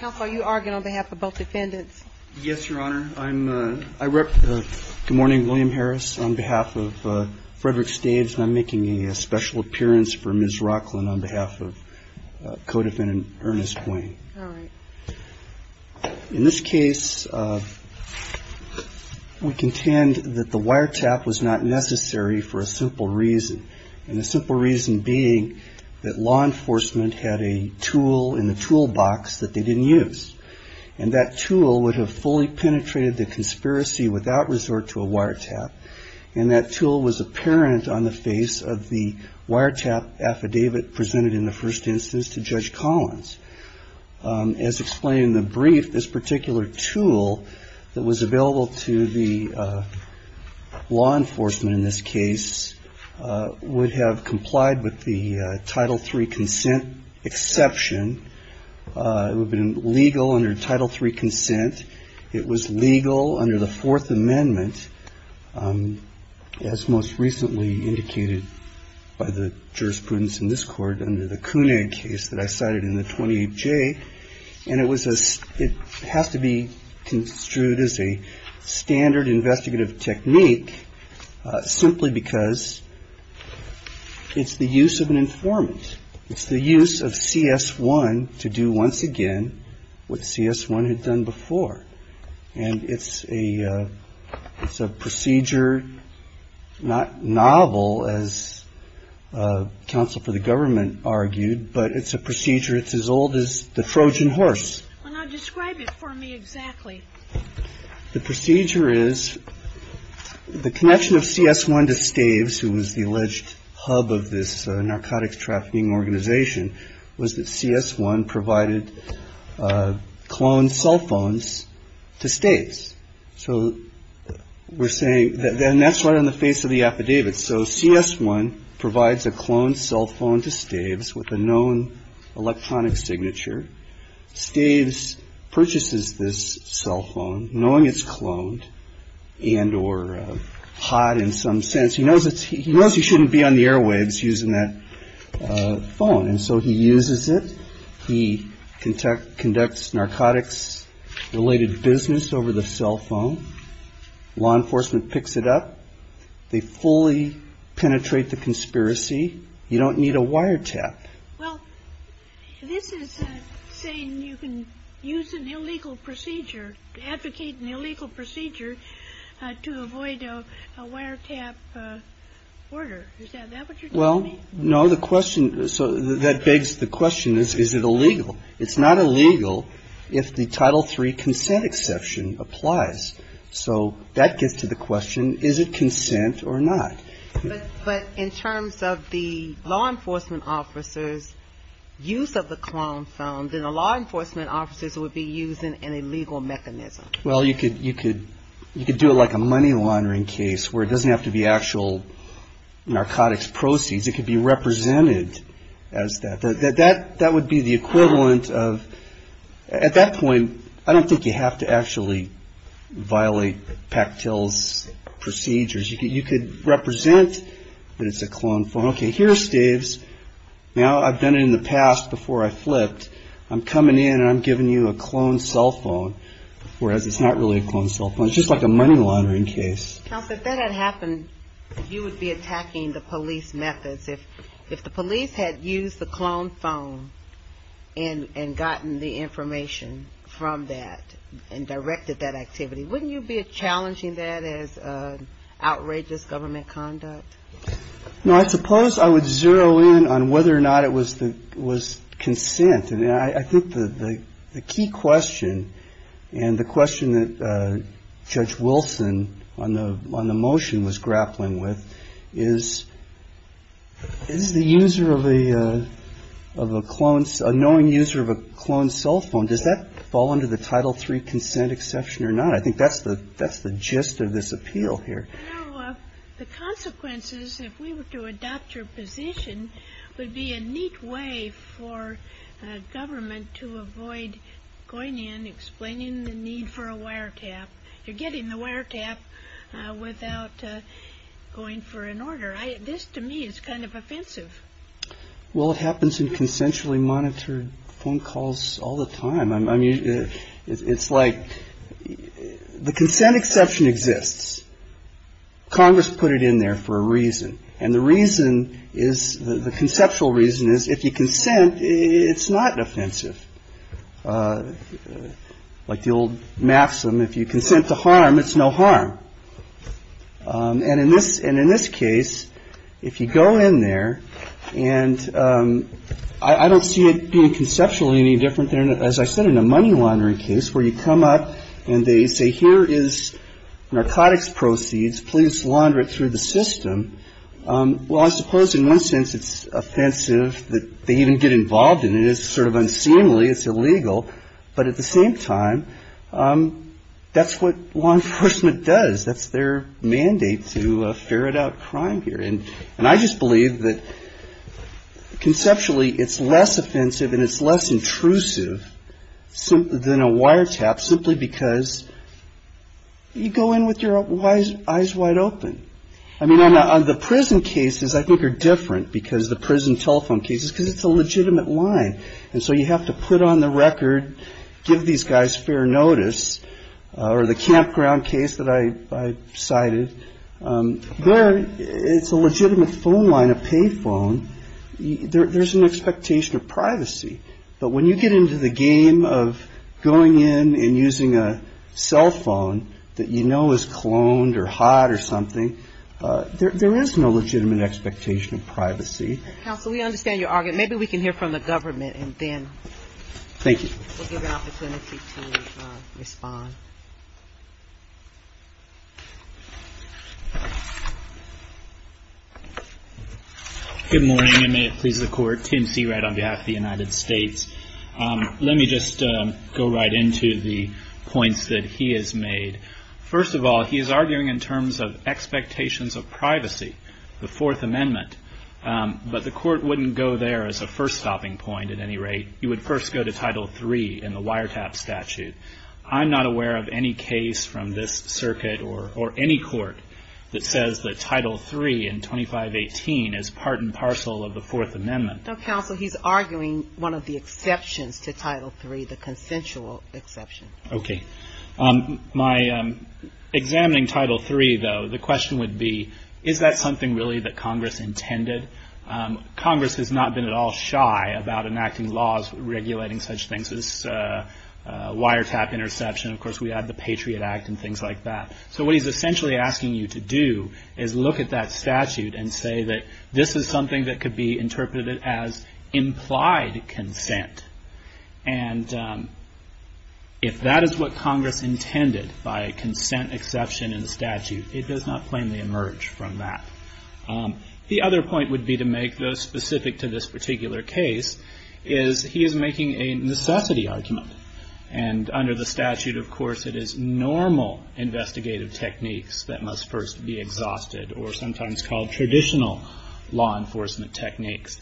How far are you arguing on behalf of both defendants? Yes, Your Honor. Good morning, William Harris on behalf of Frederick Staves. I'm making a special appearance for Ms. Rocklin on behalf of co-defendant Ernest Wayne. All right. In this case, we contend that the wiretap was not necessary for a simple reason, and the simple reason being that law enforcement had a tool in the toolbox that they didn't use. And that tool would have fully penetrated the conspiracy without resort to a wiretap, and that tool was apparent on the face of the wiretap affidavit presented in the first instance to Judge Collins. As explained in the brief, this particular tool that was available to the law enforcement in this case would have complied with the Title III consent exception. It would have been legal under Title III consent. It was legal under the Fourth Amendment, as most recently indicated by the jurisprudence in this court, under the Koonig case that I cited in the 28J. And it has to be construed as a standard investigative technique simply because it's the use of an informant. It's the use of CS1 to do once again what CS1 had done before. And it's a procedure not novel, as counsel for the government argued, but it's a procedure. It's as old as the Trojan horse. Now describe it for me exactly. The procedure is the connection of CS1 to Staves, who was the alleged hub of this narcotics trafficking organization, was that CS1 provided cloned cell phones to Staves. So we're saying then that's right on the face of the affidavit. So CS1 provides a cloned cell phone to Staves with a known electronic signature. Staves purchases this cell phone knowing it's cloned and or hot in some sense. He knows he shouldn't be on the airwaves using that phone, and so he uses it. He conducts narcotics-related business over the cell phone. Law enforcement picks it up. They fully penetrate the conspiracy. You don't need a wiretap. Well, this is saying you can use an illegal procedure, advocate an illegal procedure to avoid a wiretap order. Is that what you're telling me? Well, no. The question so that begs the question is, is it illegal? It's not illegal if the Title III consent exception applies. So that gets to the question, is it consent or not? But in terms of the law enforcement officers' use of the cloned phone, then the law enforcement officers would be using an illegal mechanism. Well, you could do it like a money laundering case where it doesn't have to be actual narcotics proceeds. It could be represented as that. That would be the equivalent of at that point, I don't think you have to actually violate Pactil's procedures. You could represent that it's a cloned phone. Okay, here's Dave's. Now, I've done it in the past before I flipped. I'm coming in and I'm giving you a cloned cell phone, whereas it's not really a cloned cell phone. It's just like a money laundering case. Counsel, if that had happened, you would be attacking the police methods. If the police had used the cloned phone and gotten the information from that and directed that activity, wouldn't you be challenging that as outrageous government conduct? No, I suppose I would zero in on whether or not it was consent. I think the key question and the question that Judge Wilson on the motion was grappling with is, is the user of a cloned, a knowing user of a cloned cell phone, does that fall under the Title III consent exception or not? I think that's the gist of this appeal here. The consequences, if we were to adopt your position, would be a neat way for government to avoid going in and explaining the need for a wiretap. You're getting the wiretap without going for an order. This, to me, is kind of offensive. Well, it happens in consensually monitored phone calls all the time. It's like the consent exception exists. Congress put it in there for a reason. And the reason is the conceptual reason is if you consent, it's not offensive. Like the old maxim, if you consent to harm, it's no harm. And in this and in this case, if you go in there and I don't see it being conceptually any different. As I said, in a money laundering case where you come up and they say, here is narcotics proceeds. Please launder it through the system. Well, I suppose in one sense it's offensive that they even get involved in it. It's sort of unseemly. It's illegal. But at the same time, that's what law enforcement does. That's their mandate to ferret out crime here. And I just believe that conceptually it's less offensive and it's less intrusive than a wiretap simply because you go in with your eyes wide open. I mean, on the prison cases, I think are different because the prison telephone cases, because it's a legitimate line. And so you have to put on the record. Give these guys fair notice. Or the campground case that I cited, there it's a legitimate phone line, a pay phone. There's an expectation of privacy. But when you get into the game of going in and using a cell phone that you know is cloned or hot or something, there is no legitimate expectation of privacy. Counsel, we understand your argument. Maybe we can hear from the government and then. Thank you. We'll give an opportunity to respond. Good morning, and may it please the Court. Tim Seawright on behalf of the United States. Let me just go right into the points that he has made. First of all, he is arguing in terms of expectations of privacy, the Fourth Amendment. But the Court wouldn't go there as a first stopping point at any rate. You would first go to Title III in the wiretap statute. I'm not aware of any case from this circuit or any court that says that Title III in 2518 is part and parcel of the Fourth Amendment. No, Counsel, he's arguing one of the exceptions to Title III, the consensual exception. Okay. Examining Title III, though, the question would be, is that something really that Congress intended? Congress has not been at all shy about enacting laws regulating such things as wiretap interception. Of course, we have the Patriot Act and things like that. So what he's essentially asking you to do is look at that statute and say that this is something that could be interpreted as implied consent. And if that is what Congress intended by a consent exception in the statute, it does not plainly emerge from that. The other point would be to make, though specific to this particular case, is he is making a necessity argument. And under the statute, of course, it is normal investigative techniques that must first be exhausted, or sometimes called traditional law enforcement techniques.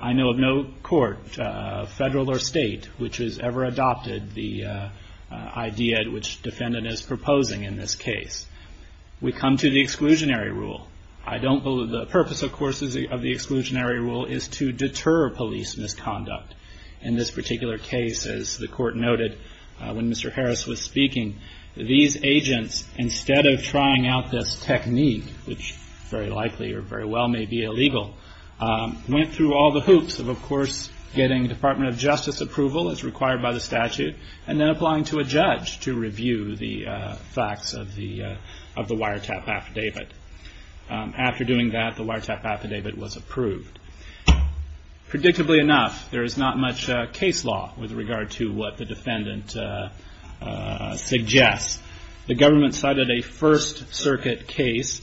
I know of no court, federal or state, which has ever adopted the idea which defendant is proposing in this case. We come to the exclusionary rule. The purpose, of course, of the exclusionary rule is to deter police misconduct. In this particular case, as the court noted when Mr. Harris was speaking, these agents, instead of trying out this technique, which very likely or very well may be illegal, went through all the hoops of, of course, getting Department of Justice approval, as required by the statute, and then applying to a judge to review the facts of the wiretap affidavit. After doing that, the wiretap affidavit was approved. Predictably enough, there is not much case law with regard to what the defendant suggests. The government cited a First Circuit case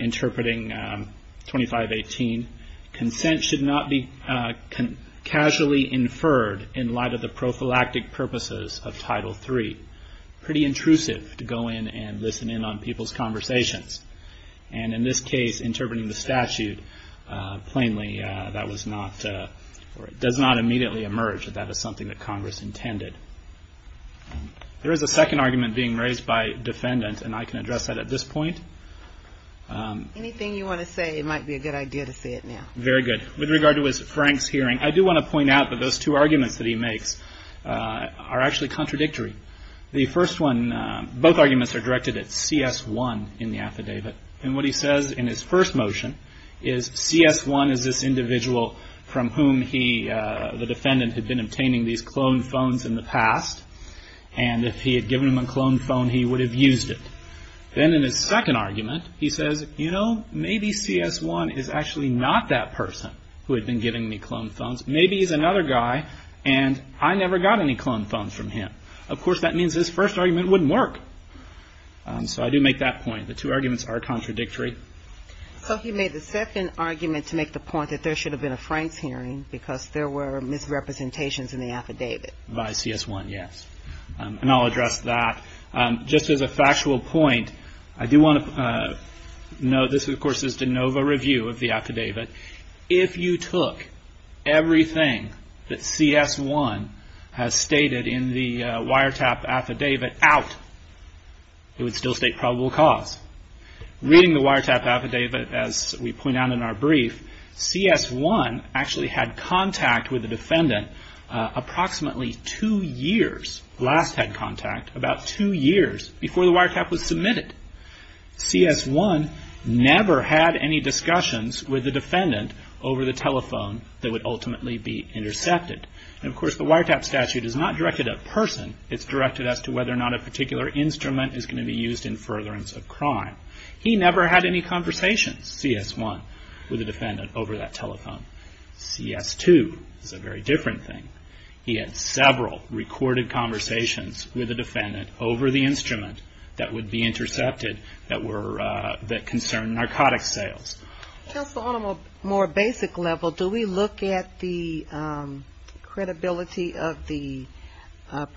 interpreting 2518. Consent should not be casually inferred in light of the prophylactic purposes of Title III. Pretty intrusive to go in and listen in on people's conversations. And in this case, interpreting the statute plainly, that was not, does not immediately emerge that that is something that Congress intended. There is a second argument being raised by defendant, and I can address that at this point. Anything you want to say, it might be a good idea to say it now. Very good. With regard to Frank's hearing, I do want to point out that those two arguments that he makes are actually contradictory. The first one, both arguments are directed at CS1 in the affidavit. And what he says in his first motion is CS1 is this individual from whom he, the defendant, had been obtaining these clone phones in the past, and if he had given him a clone phone, he would have used it. Then in his second argument, he says, you know, maybe CS1 is actually not that person who had been giving me clone phones. Maybe he's another guy, and I never got any clone phones from him. Of course, that means his first argument wouldn't work. So I do make that point. The two arguments are contradictory. So he made the second argument to make the point that there should have been a Frank's hearing because there were misrepresentations in the affidavit. By CS1, yes. And I'll address that. Just as a factual point, I do want to note this, of course, is de novo review of the affidavit. If you took everything that CS1 has stated in the wiretap affidavit out, it would still state probable cause. Reading the wiretap affidavit, as we point out in our brief, CS1 actually had contact with the defendant approximately two years, last had contact, about two years before the wiretap was submitted. CS1 never had any discussions with the defendant over the telephone that would ultimately be intercepted. And of course, the wiretap statute is not directed at a person. It's directed as to whether or not a particular instrument is going to be used in furtherance of crime. He never had any conversations, CS1, with the defendant over that telephone. CS2 is a very different thing. He had several recorded conversations with the defendant over the instrument that would be intercepted, that concerned narcotics sales. Just on a more basic level, do we look at the credibility of the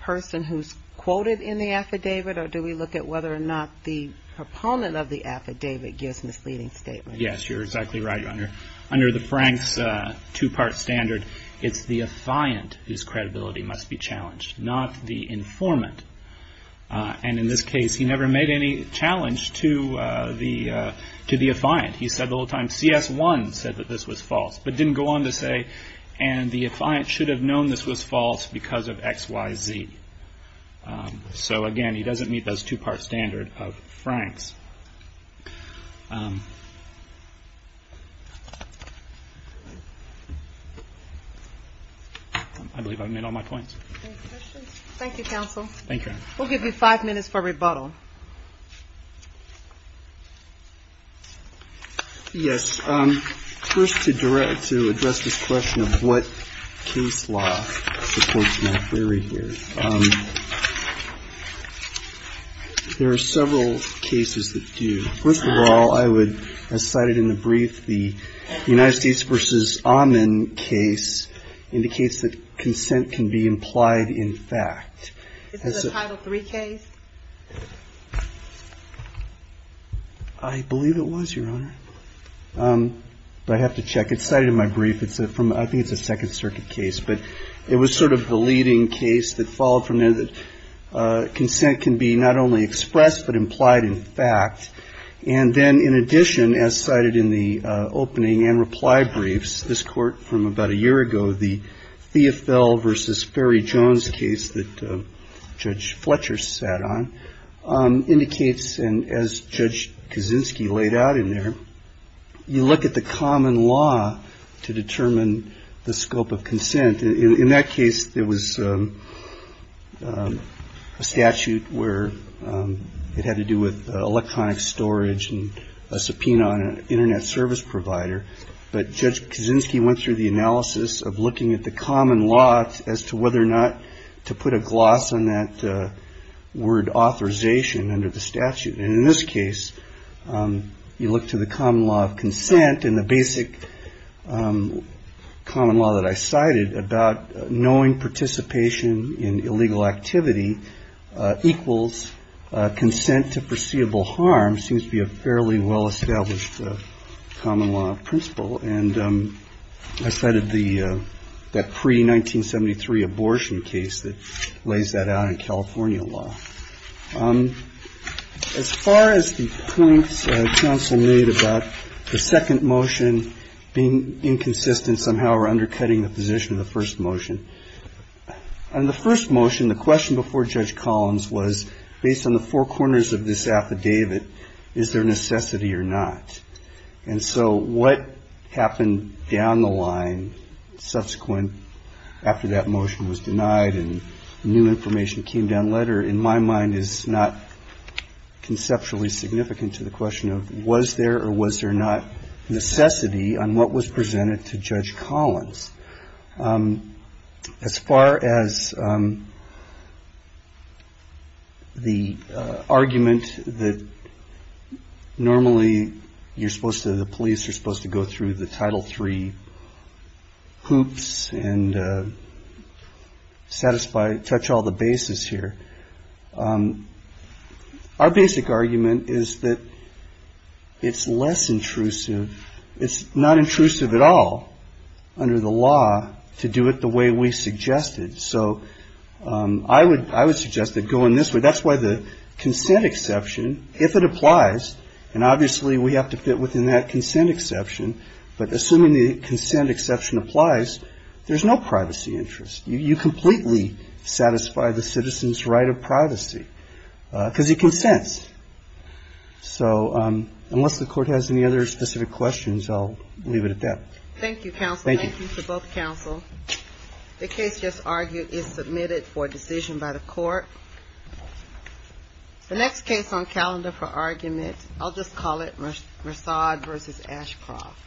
person who's quoted in the affidavit, or do we look at whether or not the proponent of the affidavit gives misleading statements? Yes, you're exactly right. Under the Franks two-part standard, it's the affiant whose credibility must be challenged, not the informant. And in this case, he never made any challenge to the affiant. He said the whole time, CS1 said that this was false, but didn't go on to say, and the affiant should have known this was false because of X, Y, Z. So, again, he doesn't meet those two-part standard of Franks. I believe I've made all my points. Any questions? Thank you, counsel. Thank you. We'll give you five minutes for rebuttal. Yes. First, to address this question of what case law supports my theory here, there are several cases that do. First of all, I would, as cited in the brief, the United States v. Amin case indicates that consent can be implied in fact. Is it a Title III case? I believe it was, Your Honor. But I have to check. It's cited in my brief. I think it's a Second Circuit case. But it was sort of the leading case that followed from there that consent can be not only expressed but implied in fact. And then, in addition, as cited in the opening and reply briefs, this court from about a year ago, the Theofel v. Ferry Jones case that Judge Fletcher sat on, indicates, and as Judge Kaczynski laid out in there, you look at the common law to determine the scope of consent. In that case, there was a statute where it had to do with electronic storage and a subpoena on an Internet service provider. But Judge Kaczynski went through the analysis of looking at the common law as to whether or not to put a gloss on that word authorization under the statute. And in this case, you look to the common law of consent, and the basic common law that I cited about knowing participation in illegal activity equals consent to foreseeable harm, which seems to be a fairly well-established common law principle. And I cited that pre-1973 abortion case that lays that out in California law. As far as the points counsel made about the second motion being inconsistent somehow or undercutting the position of the first motion, on the first motion, the question before Judge Collins was, based on the four corners of this affidavit, is there necessity or not? And so what happened down the line subsequent, after that motion was denied and new information came down lighter, in my mind is not conceptually significant to the question of was there or was there not necessity on what was presented to Judge Collins. As far as the argument that normally you're supposed to, the police are supposed to go through the Title III hoops and satisfy, touch all the bases here, our basic argument is that it's less intrusive. It's not intrusive at all under the law to do it the way we suggested. So I would suggest that going this way. That's why the consent exception, if it applies, and obviously we have to fit within that consent exception, but assuming the consent exception applies, there's no privacy interest. You completely satisfy the citizen's right of privacy because it consents. So unless the Court has any other specific questions, I'll leave it at that. Thank you, counsel. Thank you. Thank you to both counsel. The case just argued is submitted for decision by the Court. The next case on calendar for argument, I'll just call it Merced v. Ashcroft. Thank you.